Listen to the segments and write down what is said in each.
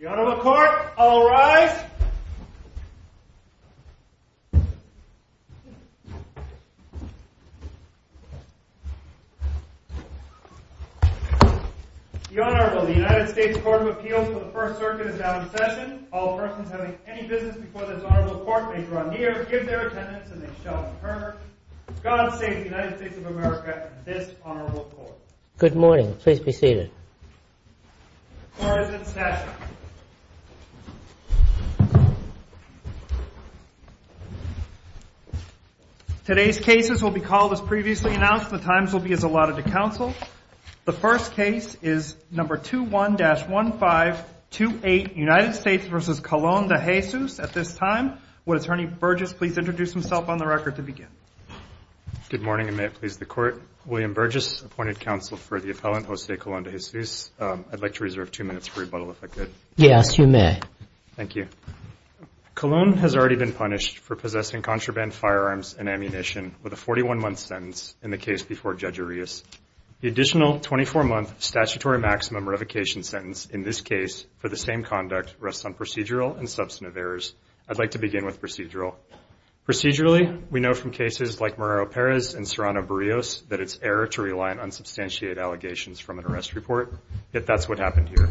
The Honourable Court, all rise. The Honourable United States Court of Appeals for the First Circuit is now in session. All persons having any business before this Honourable Court may draw near, give their attendance, and they shall return. God save the United States of America and this Honourable Court. Good morning. Please be seated. Court is in session. Today's cases will be called as previously announced. The times will be as allotted to counsel. The first case is No. 21-1528, United States v. Colon-De Jesus. At this time, would Attorney Burgess please introduce himself on the record to begin? William Burgess, appointed counsel for the appellant Jose Colon-De Jesus. I'd like to reserve two minutes for rebuttal, if I could. Yes, you may. Thank you. Colon has already been punished for possessing contraband firearms and ammunition with a 41-month sentence in the case before Judge Arias. The additional 24-month statutory maximum revocation sentence in this case for the same conduct rests on procedural and substantive errors. I'd like to begin with procedural. Procedurally, we know from cases like Morero-Perez and Serrano-Barrios that it's error to rely on unsubstantiated allegations from an arrest report. Yet that's what happened here.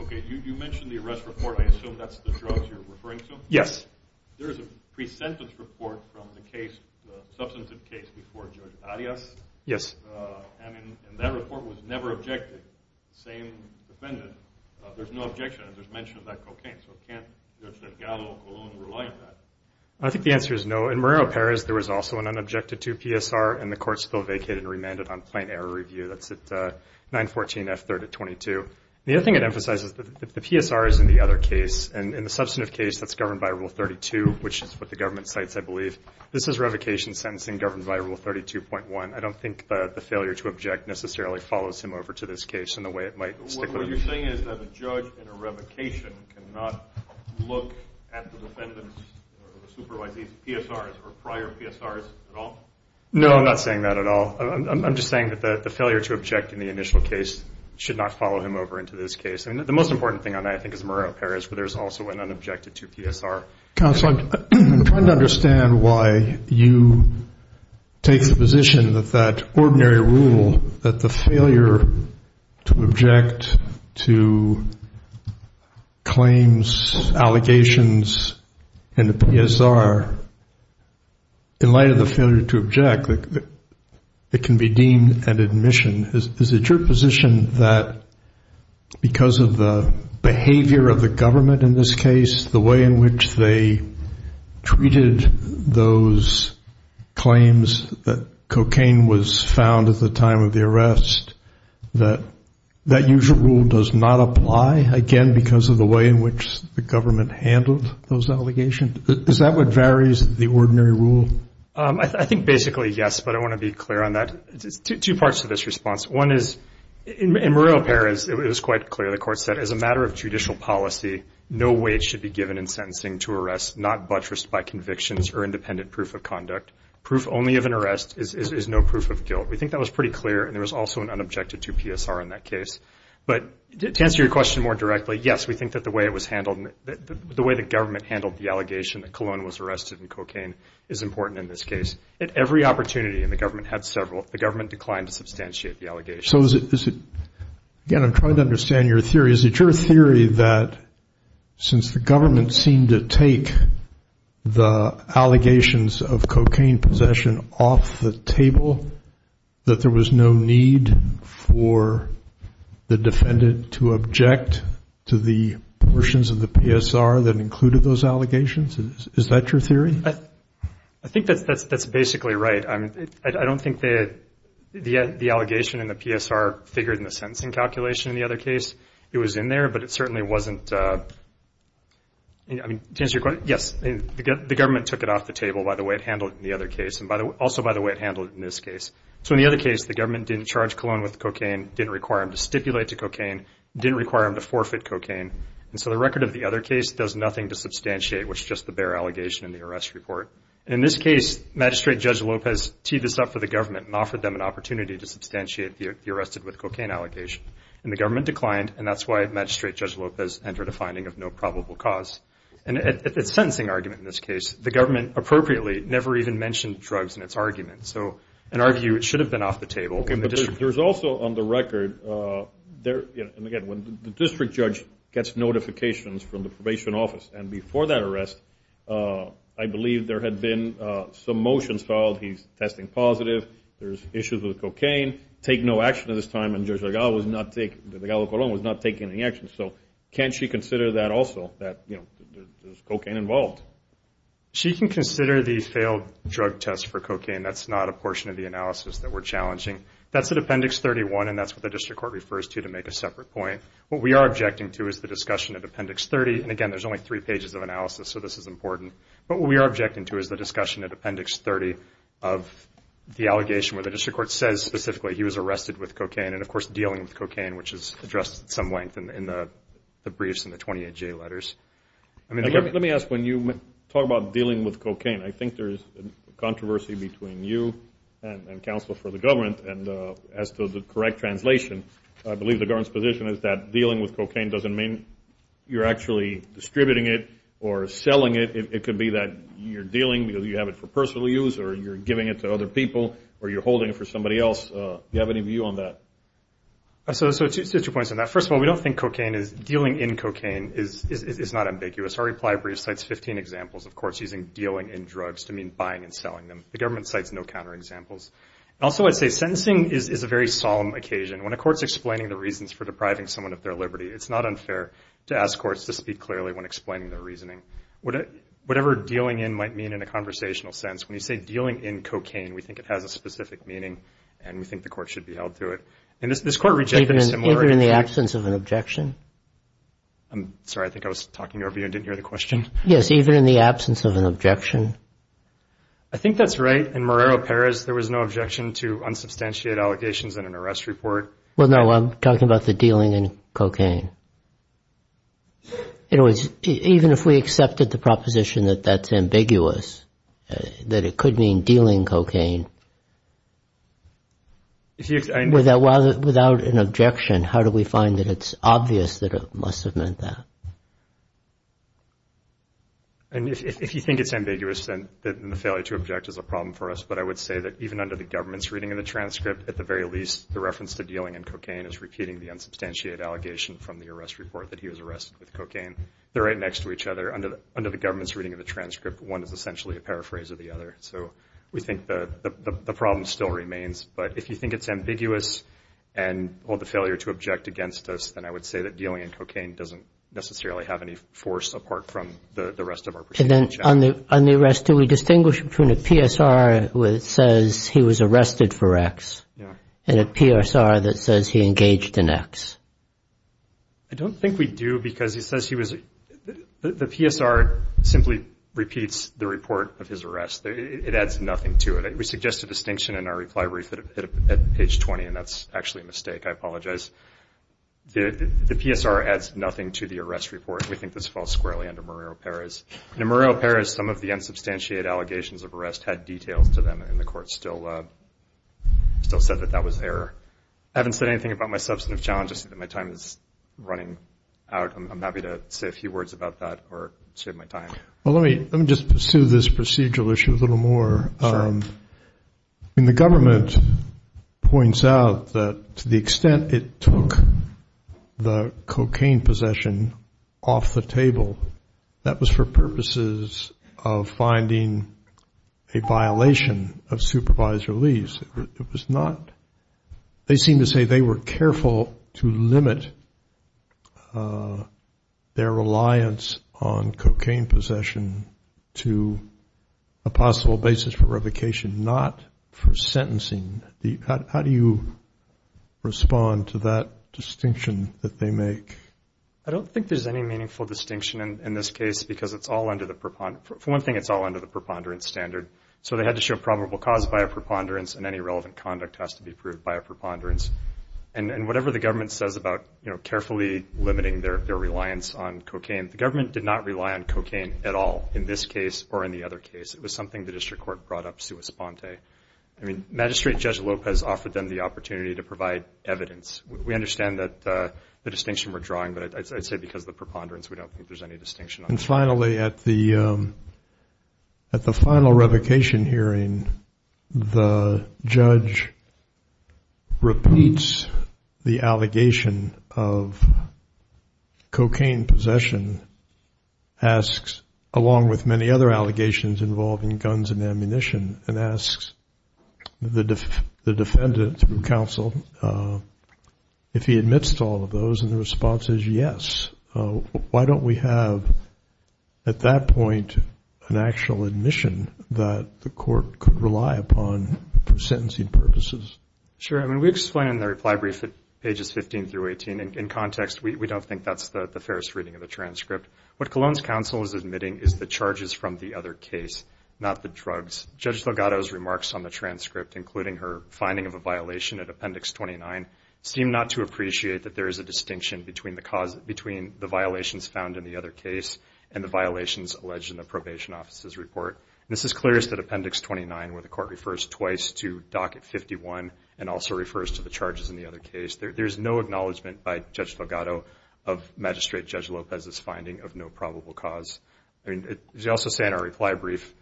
Okay, you mentioned the arrest report. I assume that's the drugs you're referring to? Yes. There is a pre-sentence report from the case, the substantive case before Judge Arias. Yes. And that report was never objected. The same defendant. There's no objection. There's mention of that cocaine. So can't Judge Delgado-Colon rely on that? I think the answer is no. In Morero-Perez, there was also an unobjected to PSR, and the court still vacated and remanded on plain error review. That's at 914 F. 3rd at 22. The other thing I'd emphasize is that the PSR is in the other case. In the substantive case, that's governed by Rule 32, which is what the government cites, I believe. This is revocation sentencing governed by Rule 32.1. I don't think the failure to object necessarily follows him over to this case in the way it might stick with him. What you're saying is that a judge in a revocation cannot look at the defendant's supervisor's PSRs or prior PSRs at all? No, I'm not saying that at all. I'm just saying that the failure to object in the initial case should not follow him over into this case. The most important thing on that, I think, is Morero-Perez, where there's also an unobjected to PSR. Counsel, I'm trying to understand why you take the position that that ordinary rule, that the failure to object to claims, allegations, and the PSR, in light of the failure to object, it can be deemed an admission. Is it your position that because of the behavior of the government in this case, the way in which they treated those claims that cocaine was found at the time of the arrest, that that usual rule does not apply, again, because of the way in which the government handled those allegations? Is that what varies, the ordinary rule? I think basically, yes, but I want to be clear on that. Two parts to this response. One is, in Morero-Perez, it was quite clear. The court said, as a matter of judicial policy, no weight should be given in sentencing to arrest, not buttressed by convictions or independent proof of conduct. Proof only of an arrest is no proof of guilt. We think that was pretty clear, and there was also an unobjected to PSR in that case. But to answer your question more directly, yes, we think that the way it was handled, the way the government handled the allegation that Cologne was arrested in cocaine is important in this case. At every opportunity, and the government had several, the government declined to substantiate the allegation. So is it, again, I'm trying to understand your theory. Is it your theory that since the government seemed to take the allegations of cocaine possession off the table, that there was no need for the defendant to object to the portions of the PSR that included those allegations? Is that your theory? I think that's basically right. I don't think the allegation in the PSR figured in the sentencing calculation in the other case. It was in there, but it certainly wasn't. To answer your question, yes, the government took it off the table by the way it handled it in the other case, and also by the way it handled it in this case. So in the other case, the government didn't charge Cologne with cocaine, didn't require him to stipulate to cocaine, didn't require him to forfeit cocaine. And so the record of the other case does nothing to substantiate what's just the bare allegation in the arrest report. In this case, Magistrate Judge Lopez teed this up for the government and offered them an opportunity to substantiate the arrested with cocaine allegation. And the government declined, and that's why Magistrate Judge Lopez entered a finding of no probable cause. And at the sentencing argument in this case, the government appropriately never even mentioned drugs in its argument. So an argument should have been off the table. There's also on the record, and again, when the district judge gets notifications from the probation office, and before that arrest I believe there had been some motions filed, he's testing positive, there's issues with cocaine, take no action at this time, and Judge Delgado was not taking any action. So can't she consider that also, that there's cocaine involved? And that's not a portion of the analysis that we're challenging. That's at Appendix 31, and that's what the district court refers to to make a separate point. What we are objecting to is the discussion at Appendix 30. And again, there's only three pages of analysis, so this is important. But what we are objecting to is the discussion at Appendix 30 of the allegation where the district court says specifically he was arrested with cocaine, and of course dealing with cocaine, which is addressed at some length in the briefs and the 28J letters. Let me ask when you talk about dealing with cocaine, I think there's a controversy between you and counsel for the government as to the correct translation. I believe the government's position is that dealing with cocaine doesn't mean you're actually distributing it or selling it. It could be that you're dealing because you have it for personal use or you're giving it to other people or you're holding it for somebody else. Do you have any view on that? So two points on that. First of all, we don't think dealing in cocaine is not ambiguous. Our reply brief cites 15 examples of courts using dealing in drugs to mean buying and selling them. The government cites no counterexamples. Also, I'd say sentencing is a very solemn occasion. When a court's explaining the reasons for depriving someone of their liberty, it's not unfair to ask courts to speak clearly when explaining their reasoning. Whatever dealing in might mean in a conversational sense, when you say dealing in cocaine, we think it has a specific meaning and we think the court should be held to it. And this court rejected a similar argument. Even in the absence of an objection? I'm sorry, I think I was talking over you and didn't hear the question. Yes, even in the absence of an objection? I think that's right. In Marrero-Perez, there was no objection to unsubstantiated allegations in an arrest report. Well, no, I'm talking about the dealing in cocaine. In other words, even if we accepted the proposition that that's ambiguous, that it could mean dealing cocaine, without an objection, how do we find that it's obvious that it must have meant that? If you think it's ambiguous, then the failure to object is a problem for us. But I would say that even under the government's reading of the transcript, at the very least the reference to dealing in cocaine is repeating the unsubstantiated allegation from the arrest report that he was arrested with cocaine. They're right next to each other. Under the government's reading of the transcript, one is essentially a paraphrase of the other. So we think the problem still remains. But if you think it's ambiguous and the failure to object against us, then I would say that dealing in cocaine doesn't necessarily have any force apart from the rest of our perspective. And then on the arrest, do we distinguish between a PSR that says he was arrested for X and a PSR that says he engaged in X? I don't think we do because he says he was. The PSR simply repeats the report of his arrest. It adds nothing to it. We suggest a distinction in our reply brief at page 20, and that's actually a mistake. I apologize. The PSR adds nothing to the arrest report. We think this falls squarely under Murillo-Perez. In Murillo-Perez, some of the unsubstantiated allegations of arrest had details to them, and the court still said that that was error. I haven't said anything about my substantive challenge. I see that my time is running out. I'm happy to say a few words about that or save my time. Well, let me just pursue this procedural issue a little more. Sure. I mean, the government points out that to the extent it took the cocaine possession off the table, that was for purposes of finding a violation of supervisory release. It was not – they seem to say they were careful to limit their reliance on cocaine possession to a possible basis for revocation, not for sentencing. How do you respond to that distinction that they make? I don't think there's any meaningful distinction in this case because it's all under the – for one thing, it's all under the preponderance standard. So they had to show probable cause by a preponderance, and any relevant conduct has to be proved by a preponderance. And whatever the government says about carefully limiting their reliance on cocaine, the government did not rely on cocaine at all in this case or in the other case. It was something the district court brought up sua sponte. I mean, Magistrate Judge Lopez offered them the opportunity to provide evidence. We understand that the distinction we're drawing, but I'd say because of the preponderance, we don't think there's any distinction. And finally, at the final revocation hearing, the judge repeats the allegation of cocaine possession, asks along with many other allegations involving guns and ammunition, and asks the defendant through counsel if he admits to all of those, and the response is yes. Why don't we have, at that point, an actual admission that the court could rely upon for sentencing purposes? Sure. I mean, we explain in the reply brief at pages 15 through 18. In context, we don't think that's the fairest reading of the transcript. What Cologne's counsel is admitting is the charges from the other case, not the drugs. Judge Delgado's remarks on the transcript, including her finding of a violation at Appendix 29, seem not to appreciate that there is a distinction between the violations found in the other case and the violations alleged in the probation officer's report. And this is clearest at Appendix 29, where the court refers twice to Docket 51 and also refers to the charges in the other case. There's no acknowledgment by Judge Delgado of Magistrate Judge Lopez's finding of no probable cause. I mean, as you also say in our reply brief,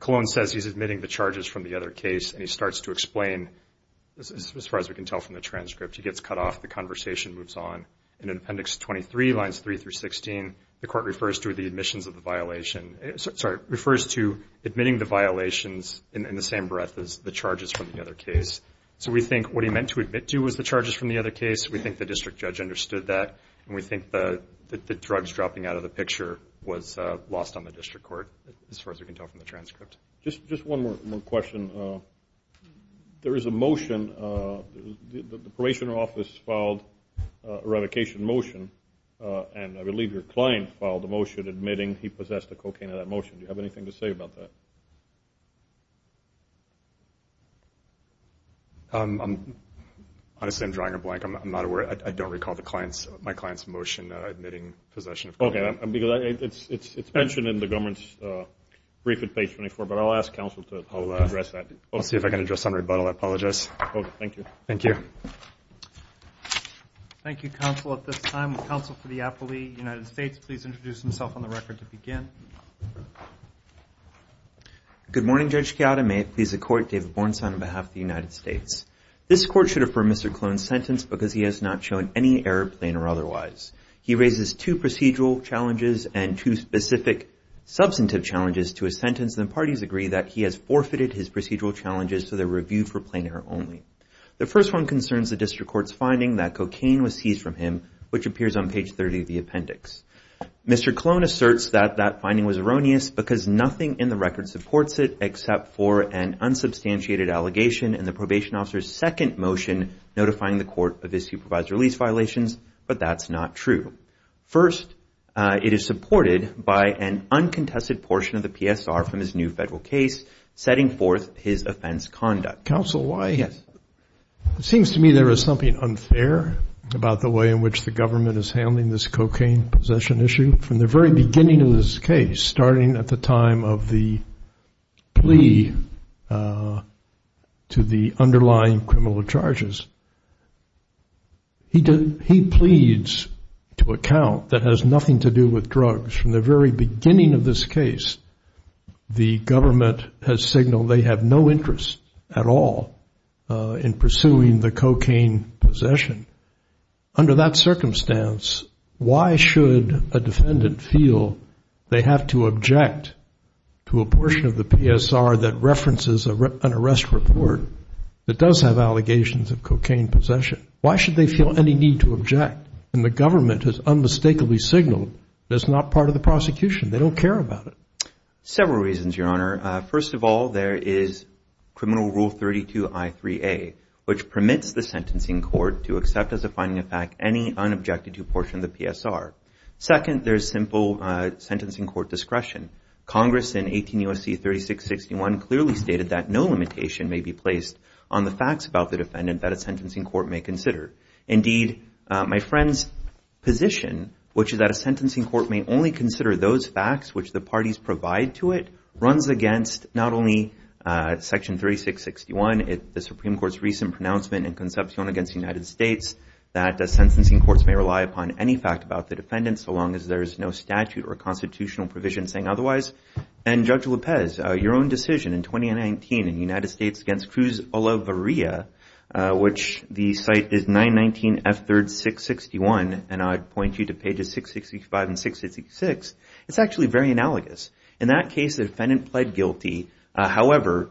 Cologne says he's admitting the charges from the other case, and he starts to explain, as far as we can tell from the transcript. He gets cut off. The conversation moves on. And in Appendix 23, lines 3 through 16, the court refers to the admissions of the violation. Sorry, refers to admitting the violations in the same breath as the charges from the other case. So we think what he meant to admit to was the charges from the other case. We think the district judge understood that, and we think the drugs dropping out of the picture was lost on the district court, as far as we can tell from the transcript. Just one more question. There is a motion. The probation office filed a revocation motion, and I believe your client filed a motion admitting he possessed the cocaine in that motion. Do you have anything to say about that? Honestly, I'm drawing a blank. I'm not aware. I don't recall my client's motion admitting possession of cocaine. It's mentioned in the government's brief at page 24, but I'll ask counsel to address that. I'll see if I can address it on rebuttal. I apologize. Thank you. Thank you. Thank you, counsel. At this time, counsel for the appellee, United States, please introduce himself on the record to begin. Good morning, Judge Chiata. May it please the court, David Bornstein on behalf of the United States. This court should refer Mr. Klone's sentence because he has not shown any error, plain or otherwise. He raises two procedural challenges and two specific substantive challenges to his sentence, and the parties agree that he has forfeited his procedural challenges so they're reviewed for plain error only. The first one concerns the district court's finding that cocaine was seized from him, which appears on page 30 of the appendix. Mr. Klone asserts that that finding was erroneous because nothing in the record supports it except for an unsubstantiated allegation in the probation officer's second motion notifying the court of his supervised release violations, but that's not true. First, it is supported by an uncontested portion of the PSR from his new federal case, setting forth his offense conduct. Counsel, why? Yes. It seems to me there is something unfair about the way in which the government is handling this cocaine possession issue from the very beginning of this case, starting at the time of the plea to the underlying criminal charges. He pleads to account that has nothing to do with drugs. From the very beginning of this case, the government has signaled they have no interest at all in pursuing the cocaine possession. Under that circumstance, why should a defendant feel they have to object to a portion of the PSR that references an arrest report that does have allegations of cocaine possession? Why should they feel any need to object when the government has unmistakably signaled that it's not part of the prosecution? They don't care about it. Several reasons, Your Honor. First of all, there is Criminal Rule 32I3A, which permits the sentencing court to accept as a finding of fact any unobjected to portion of the PSR. Second, there is simple sentencing court discretion. Congress in 18 U.S.C. 3661 clearly stated that no limitation may be placed on the facts about the defendant that a sentencing court may consider. Indeed, my friend's position, which is that a sentencing court may only consider those facts which the parties provide to it, runs against not only Section 3661, the Supreme Court's recent pronouncement in Concepcion against the United States, that a sentencing court may rely upon any fact about the defendant so long as there is no statute or constitutional provision saying otherwise. And, Judge Lopez, your own decision in 2019 in the United States against Cruz Olaveria, which the site is 919F3R661, and I'd point you to pages 665 and 666, it's actually very analogous. In that case, the defendant pled guilty. However,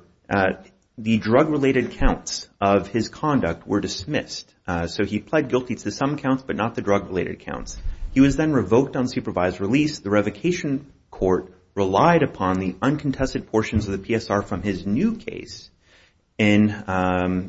the drug-related counts of his conduct were dismissed. So he pled guilty to some counts but not the drug-related counts. He was then revoked on supervised release. The revocation court relied upon the uncontested portions of the PSR from his new case in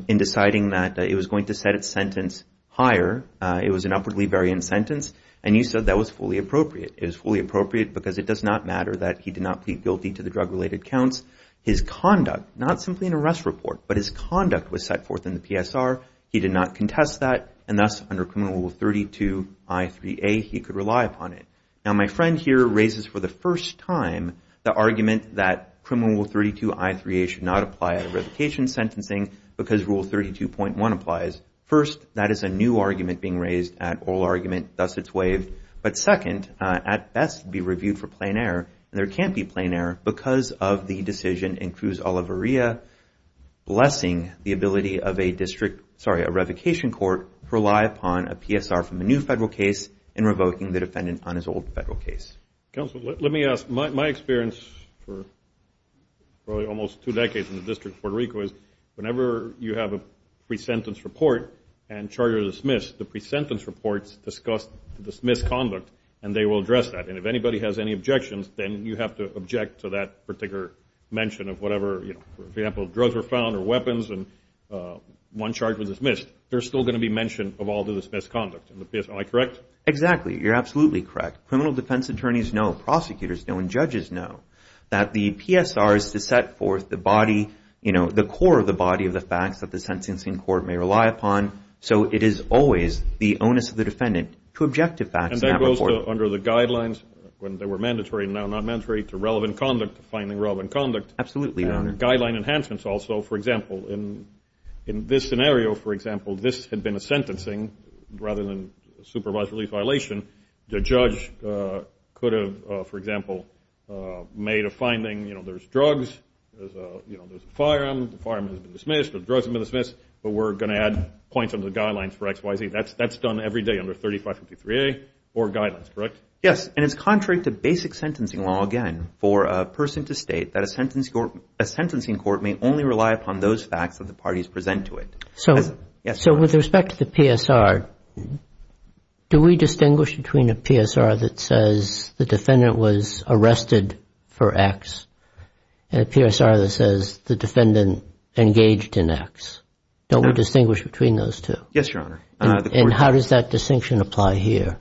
deciding that it was going to set its sentence higher. It was an upwardly variant sentence, and you said that was fully appropriate. It was fully appropriate because it does not matter that he did not plead guilty to the drug-related counts. His conduct, not simply an arrest report, but his conduct was set forth in the PSR. He did not contest that, and thus, under Criminal Rule 32I3A, he could rely upon it. Now, my friend here raises for the first time the argument that Criminal Rule 32I3A should not apply at a revocation sentencing because Rule 32.1 applies. First, that is a new argument being raised at oral argument, thus it's waived. But second, at best be reviewed for plain error, and there can't be plain error because of the decision in Cruz Oliveria blessing the ability of a district, sorry, a revocation court to rely upon a PSR from a new federal case in revoking the defendant on his old federal case. Counsel, let me ask. My experience for probably almost two decades in the District of Puerto Rico is whenever you have a pre-sentence report and charges are dismissed, the pre-sentence reports discuss the dismissed conduct, and they will address that. And if anybody has any objections, then you have to object to that particular mention of whatever, you know, for example, drugs were found or weapons, and one charge was dismissed. They're still going to be mentioned of all the dismissed conduct. Am I correct? Exactly. You're absolutely correct. Criminal defense attorneys know, prosecutors know, and judges know that the PSR is to set forth the body, you know, the core of the body of the facts that the sentencing court may rely upon. So it is always the onus of the defendant to object to facts in that report. And that goes under the guidelines when they were mandatory and now not mandatory to relevant conduct, finding relevant conduct. Absolutely, Your Honor. Guideline enhancements also. For example, in this scenario, for example, this had been a sentencing rather than supervised relief violation. The judge could have, for example, made a finding, you know, there's drugs, there's a firearm, the firearm has been dismissed or drugs have been dismissed, but we're going to add points under the guidelines for XYZ. That's done every day under 3553A or guidelines, correct? Yes. And it's contrary to basic sentencing law again for a person to state that a sentencing court may only rely upon those facts that the parties present to it. So with respect to the PSR, do we distinguish between a PSR that says the defendant was arrested for X and a PSR that says the defendant engaged in X? No. Don't we distinguish between those two? Yes, Your Honor. And how does that distinction apply here?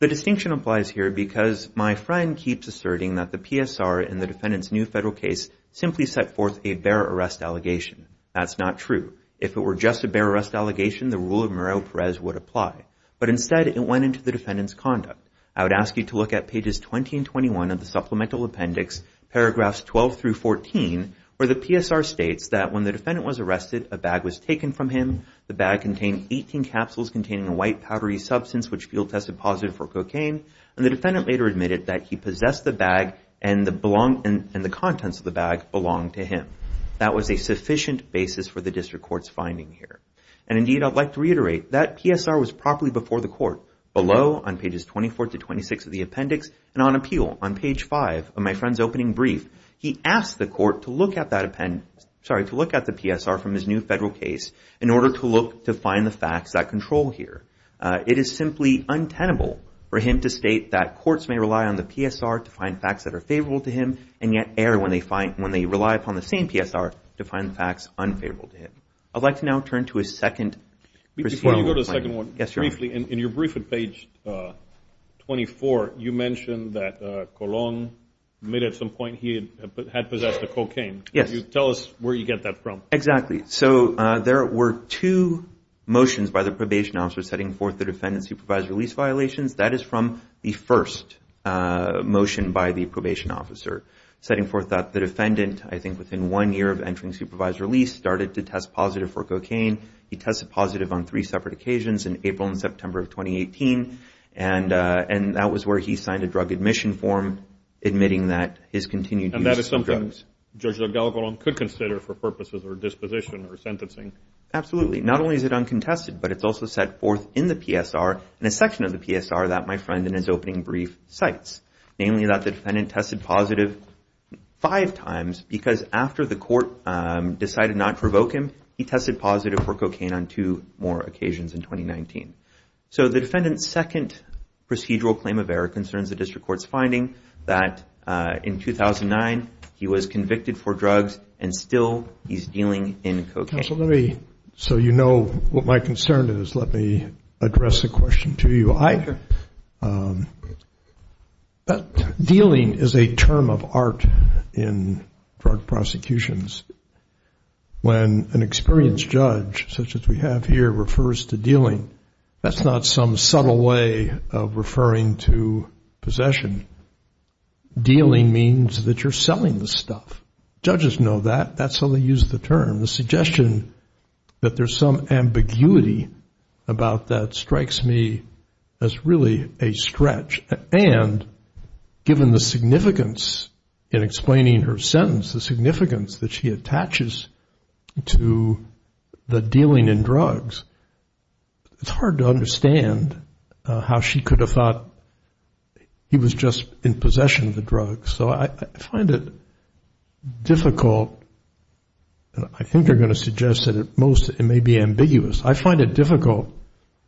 The distinction applies here because my friend keeps asserting that the PSR in the defendant's new federal case simply set forth a bear arrest allegation. That's not true. If it were just a bear arrest allegation, the rule of Morrell-Perez would apply. But instead, it went into the defendant's conduct. I would ask you to look at pages 20 and 21 of the Supplemental Appendix, paragraphs 12 through 14, where the PSR states that when the defendant was arrested, a bag was taken from him. The bag contained 18 capsules containing a white, powdery substance which field-tested positive for cocaine. And the defendant later admitted that he possessed the bag and the contents of the bag belonged to him. That was a sufficient basis for the district court's finding here. And, indeed, I'd like to reiterate that PSR was properly before the court. Below, on pages 24 to 26 of the Appendix, and on appeal, on page 5 of my friend's opening brief, he asked the court to look at the PSR from his new federal case in order to look to find the facts that control here. It is simply untenable for him to state that courts may rely on the PSR to find facts that are favorable to him and yet err when they rely upon the same PSR to find facts unfavorable to him. I'd like to now turn to a second procedural complaint. Before you go to the second one, briefly, in your briefing page 24, you mentioned that Colon admitted at some point he had possessed a cocaine. Yes. Tell us where you get that from. Exactly. So there were two motions by the probation officer setting forth the defendant's supervised release violations. That is from the first motion by the probation officer, setting forth that the defendant, I think within one year of entering supervised release, started to test positive for cocaine. He tested positive on three separate occasions in April and September of 2018, and that was where he signed a drug admission form admitting that his continued use of drugs. And that is something Judge DelGalvalon could consider for purposes of disposition or sentencing. Absolutely. Not only is it uncontested, but it's also set forth in the PSR, in a section of the PSR that my friend in his opening brief cites, namely that the defendant tested positive five times because after the court decided not to provoke him, he tested positive for cocaine on two more occasions in 2019. So the defendant's second procedural claim of error concerns the district court's finding that in 2009, he was convicted for drugs and still he's dealing in cocaine. Counsel, let me, so you know what my concern is, let me address the question to you. Dealing is a term of art in drug prosecutions. When an experienced judge, such as we have here, refers to dealing, that's not some subtle way of referring to possession. Dealing means that you're selling the stuff. Judges know that. That's how they use the term. And the suggestion that there's some ambiguity about that strikes me as really a stretch. And given the significance in explaining her sentence, the significance that she attaches to the dealing in drugs, it's hard to understand how she could have thought he was just in possession of the drugs. So I find it difficult, and I think you're going to suggest that at most it may be ambiguous. I find it difficult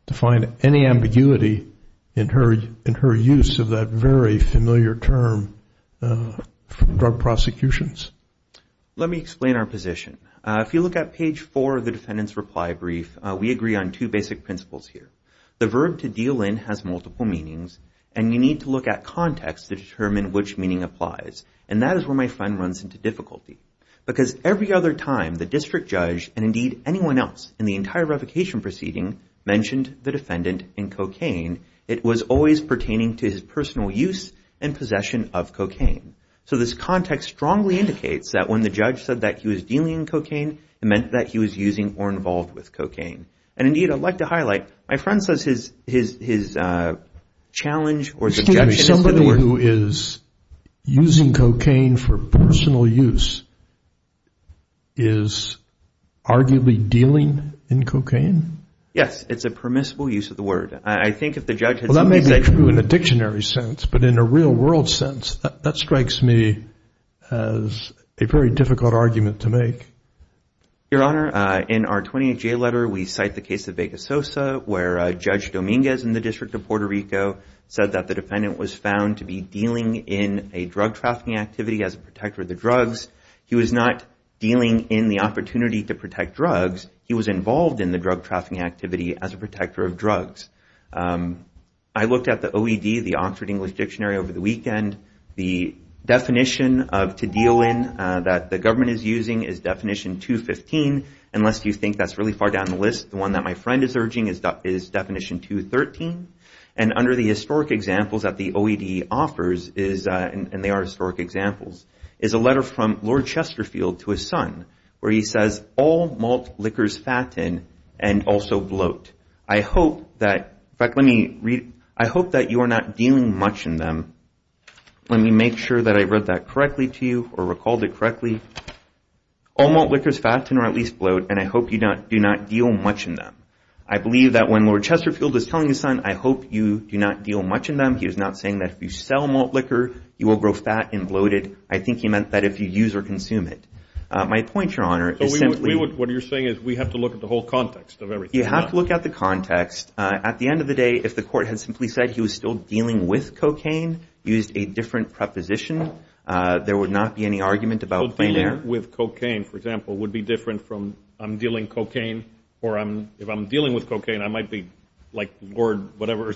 to find any ambiguity in her use of that very familiar term for drug prosecutions. Let me explain our position. If you look at page four of the defendant's reply brief, we agree on two basic principles here. The verb to deal in has multiple meanings, and you need to look at context to determine which meaning applies. And that is where my friend runs into difficulty. Because every other time the district judge, and indeed anyone else, in the entire revocation proceeding mentioned the defendant in cocaine, it was always pertaining to his personal use and possession of cocaine. So this context strongly indicates that when the judge said that he was dealing in cocaine, it meant that he was using or involved with cocaine. And indeed, I'd like to highlight, my friend says his challenge or suggestion is that the word- Excuse me. Somebody who is using cocaine for personal use is arguably dealing in cocaine? Yes. It's a permissible use of the word. I think if the judge had said- Well, that may be true in a dictionary sense, but in a real world sense, that strikes me as a very difficult argument to make. Your Honor, in our 28-J letter, we cite the case of Vega Sosa, where Judge Dominguez in the District of Puerto Rico said that the defendant was found to be dealing in a drug trafficking activity as a protector of the drugs. He was not dealing in the opportunity to protect drugs. He was involved in the drug trafficking activity as a protector of drugs. I looked at the OED, the Oxford English Dictionary, over the weekend. The definition to deal in that the government is using is Definition 215, unless you think that's really far down the list. The one that my friend is urging is Definition 213. And under the historic examples that the OED offers, and they are historic examples, is a letter from Lord Chesterfield to his son, where he says, All malt liquors fatten and also bloat. In fact, let me read it. I hope that you are not dealing much in them. Let me make sure that I read that correctly to you or recalled it correctly. All malt liquors fatten or at least bloat, and I hope you do not deal much in them. I believe that when Lord Chesterfield is telling his son, I hope you do not deal much in them, he is not saying that if you sell malt liquor, you will grow fat and bloated. I think he meant that if you use or consume it. My point, Your Honor, is simply... What you're saying is we have to look at the whole context of everything. You have to look at the context. At the end of the day, if the court had simply said he was still dealing with cocaine, used a different preposition, there would not be any argument about plain air. So dealing with cocaine, for example, would be different from I'm dealing cocaine or if I'm dealing with cocaine, I might be like Lord whatever,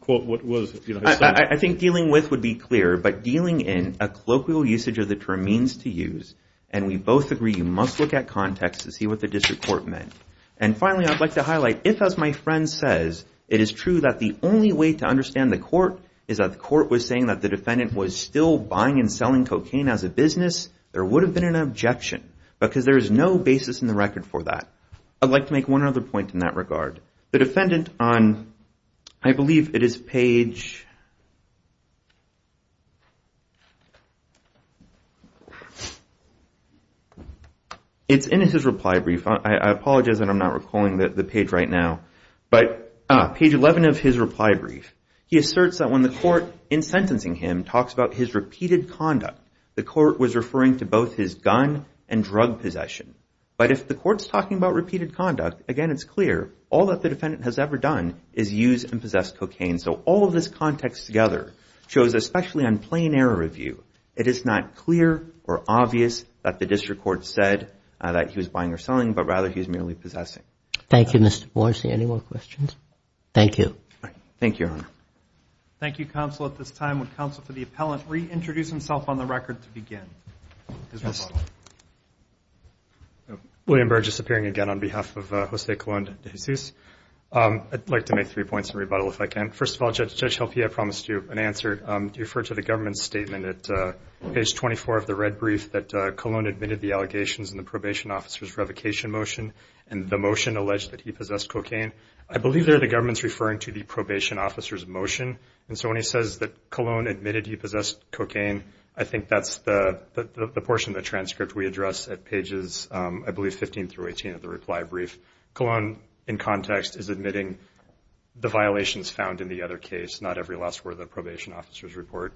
quote, what was his son. I think dealing with would be clear. But dealing in, a colloquial usage of the term means to use. And we both agree you must look at context to see what the district court meant. And finally, I'd like to highlight if, as my friend says, it is true that the only way to understand the court is that the court was saying that the defendant was still buying and selling cocaine as a business, there would have been an objection because there is no basis in the record for that. I'd like to make one other point in that regard. The defendant on, I believe it is page... It's in his reply brief. I apologize that I'm not recalling the page right now. But page 11 of his reply brief. He asserts that when the court, in sentencing him, talks about his repeated conduct, the court was referring to both his gun and drug possession. But if the court's talking about repeated conduct, again, it's clear, all that the defendant has ever done is use and possess cocaine. So all of this context together shows, especially on plain air review, it is not clear or obvious that the district court said that he was buying or selling, but rather he was merely possessing. Thank you, Mr. Boyce. Any more questions? Thank you. Thank you, Your Honor. Thank you, counsel. At this time, would counsel for the appellant reintroduce himself on the record to begin? William Burge is appearing again on behalf of Jose Colon de Jesus. I'd like to make three points in rebuttal, if I can. First of all, Judge Helpe, I promised you an answer. Do you refer to the government's statement at page 24 of the red brief that Colon admitted the allegations in the probation officer's revocation motion and the motion alleged that he possessed cocaine? I believe there the government's referring to the probation officer's motion, and so when he says that Colon admitted he possessed cocaine, I think that's the portion of the transcript we address at pages, I believe, 15 through 18 of the reply brief. Colon, in context, is admitting the violations found in the other case, not every last word of the probation officer's report.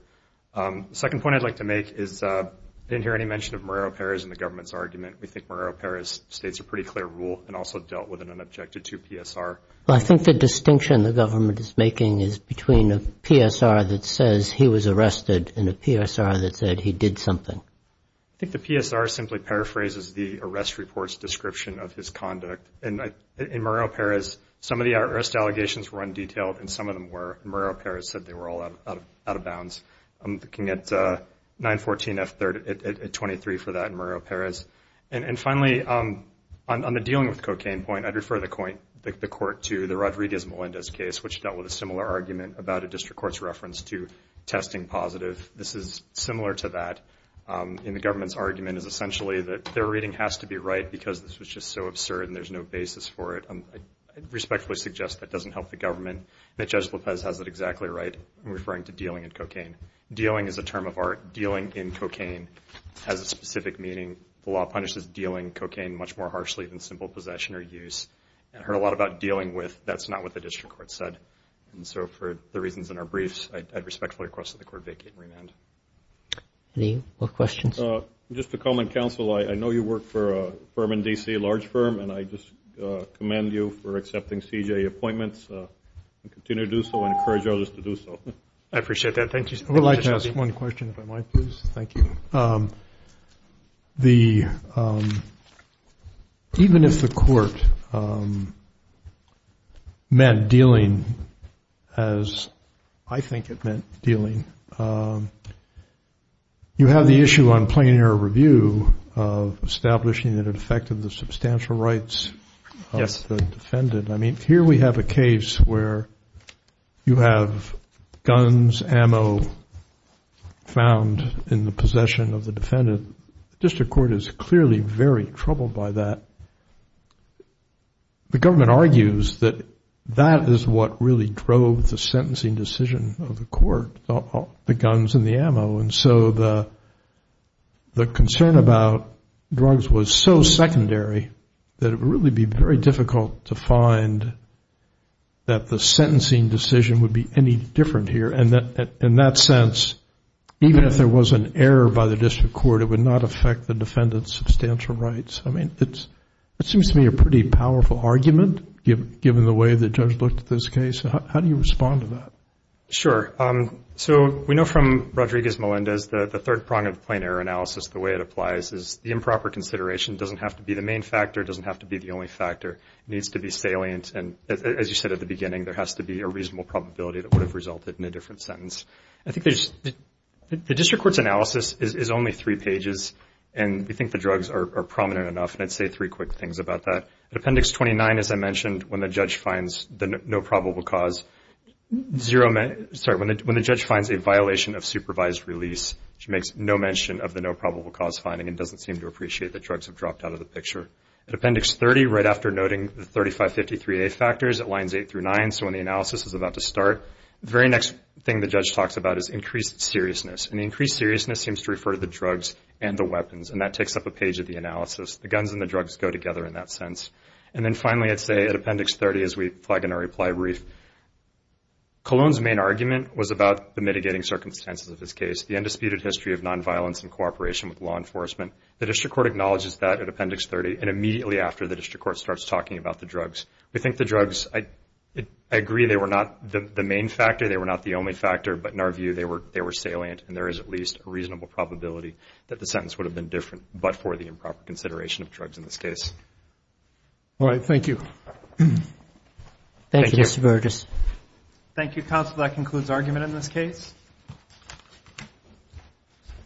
The second point I'd like to make is I didn't hear any mention of Marrero-Perez in the government's argument. We think Marrero-Perez states a pretty clear rule and also dealt with it and objected to PSR. Well, I think the distinction the government is making is between a PSR that says he was arrested and a PSR that said he did something. I think the PSR simply paraphrases the arrest report's description of his conduct. In Marrero-Perez, some of the arrest allegations were undetailed, and some of them were. Marrero-Perez said they were all out of bounds. I'm looking at 914F23 for that in Marrero-Perez. And finally, on the dealing with cocaine point, I'd refer the court to the Rodriguez-Melendez case, which dealt with a similar argument about a district court's reference to testing positive. This is similar to that, and the government's argument is essentially that their reading has to be right because this was just so absurd and there's no basis for it. I respectfully suggest that doesn't help the government, that Judge Lopez has it exactly right in referring to dealing in cocaine. Dealing is a term of art. Dealing in cocaine has a specific meaning. The law punishes dealing in cocaine much more harshly than simple possession or use. I heard a lot about dealing with. That's not what the district court said. And so for the reasons in our briefs, I'd respectfully request that the court vacate and remand. Any more questions? Just to comment, counsel, I know you work for a firm in D.C., a large firm, and I just commend you for accepting CJA appointments and continue to do so and encourage others to do so. I appreciate that. Thank you. I would like to ask one question, if I might, please. Thank you. Even if the court meant dealing as I think it meant dealing, you have the issue on plain error review of establishing that it affected the substantial rights of the defendant. I mean, here we have a case where you have guns, ammo, found in the possession of the defendant. The district court is clearly very troubled by that. The government argues that that is what really drove the sentencing decision of the court, the guns and the ammo, and so the concern about drugs was so secondary that it would really be very difficult to find that the sentencing decision would be any different here. And in that sense, even if there was an error by the district court, it would not affect the defendant's substantial rights. I mean, it seems to me a pretty powerful argument, given the way the judge looked at this case. How do you respond to that? Sure. So we know from Rodriguez-Melendez that the third prong of plain error analysis, the way it applies, is the improper consideration doesn't have to be the main factor, doesn't have to be the only factor. It needs to be salient. And as you said at the beginning, there has to be a reasonable probability that would have resulted in a different sentence. I think the district court's analysis is only three pages, and we think the drugs are prominent enough, and I'd say three quick things about that. Appendix 29, as I mentioned, when the judge finds the no probable cause, when the judge finds a violation of supervised release, she makes no mention of the no probable cause finding and doesn't seem to appreciate that drugs have dropped out of the picture. At Appendix 30, right after noting the 3553A factors, at lines 8 through 9, so when the analysis is about to start, the very next thing the judge talks about is increased seriousness, and the increased seriousness seems to refer to the drugs and the weapons, and that takes up a page of the analysis. The guns and the drugs go together in that sense. And then finally, I'd say at Appendix 30, as we flag in our reply brief, Colon's main argument was about the mitigating circumstances of his case. The undisputed history of nonviolence and cooperation with law enforcement. The district court acknowledges that at Appendix 30 and immediately after the district court starts talking about the drugs. We think the drugs, I agree they were not the main factor, they were not the only factor, but in our view they were salient and there is at least a reasonable probability that the sentence would have been different but for the improper consideration of drugs in this case. All right, thank you. Thank you, Mr. Burgess. Thank you, counsel. That concludes argument in this case.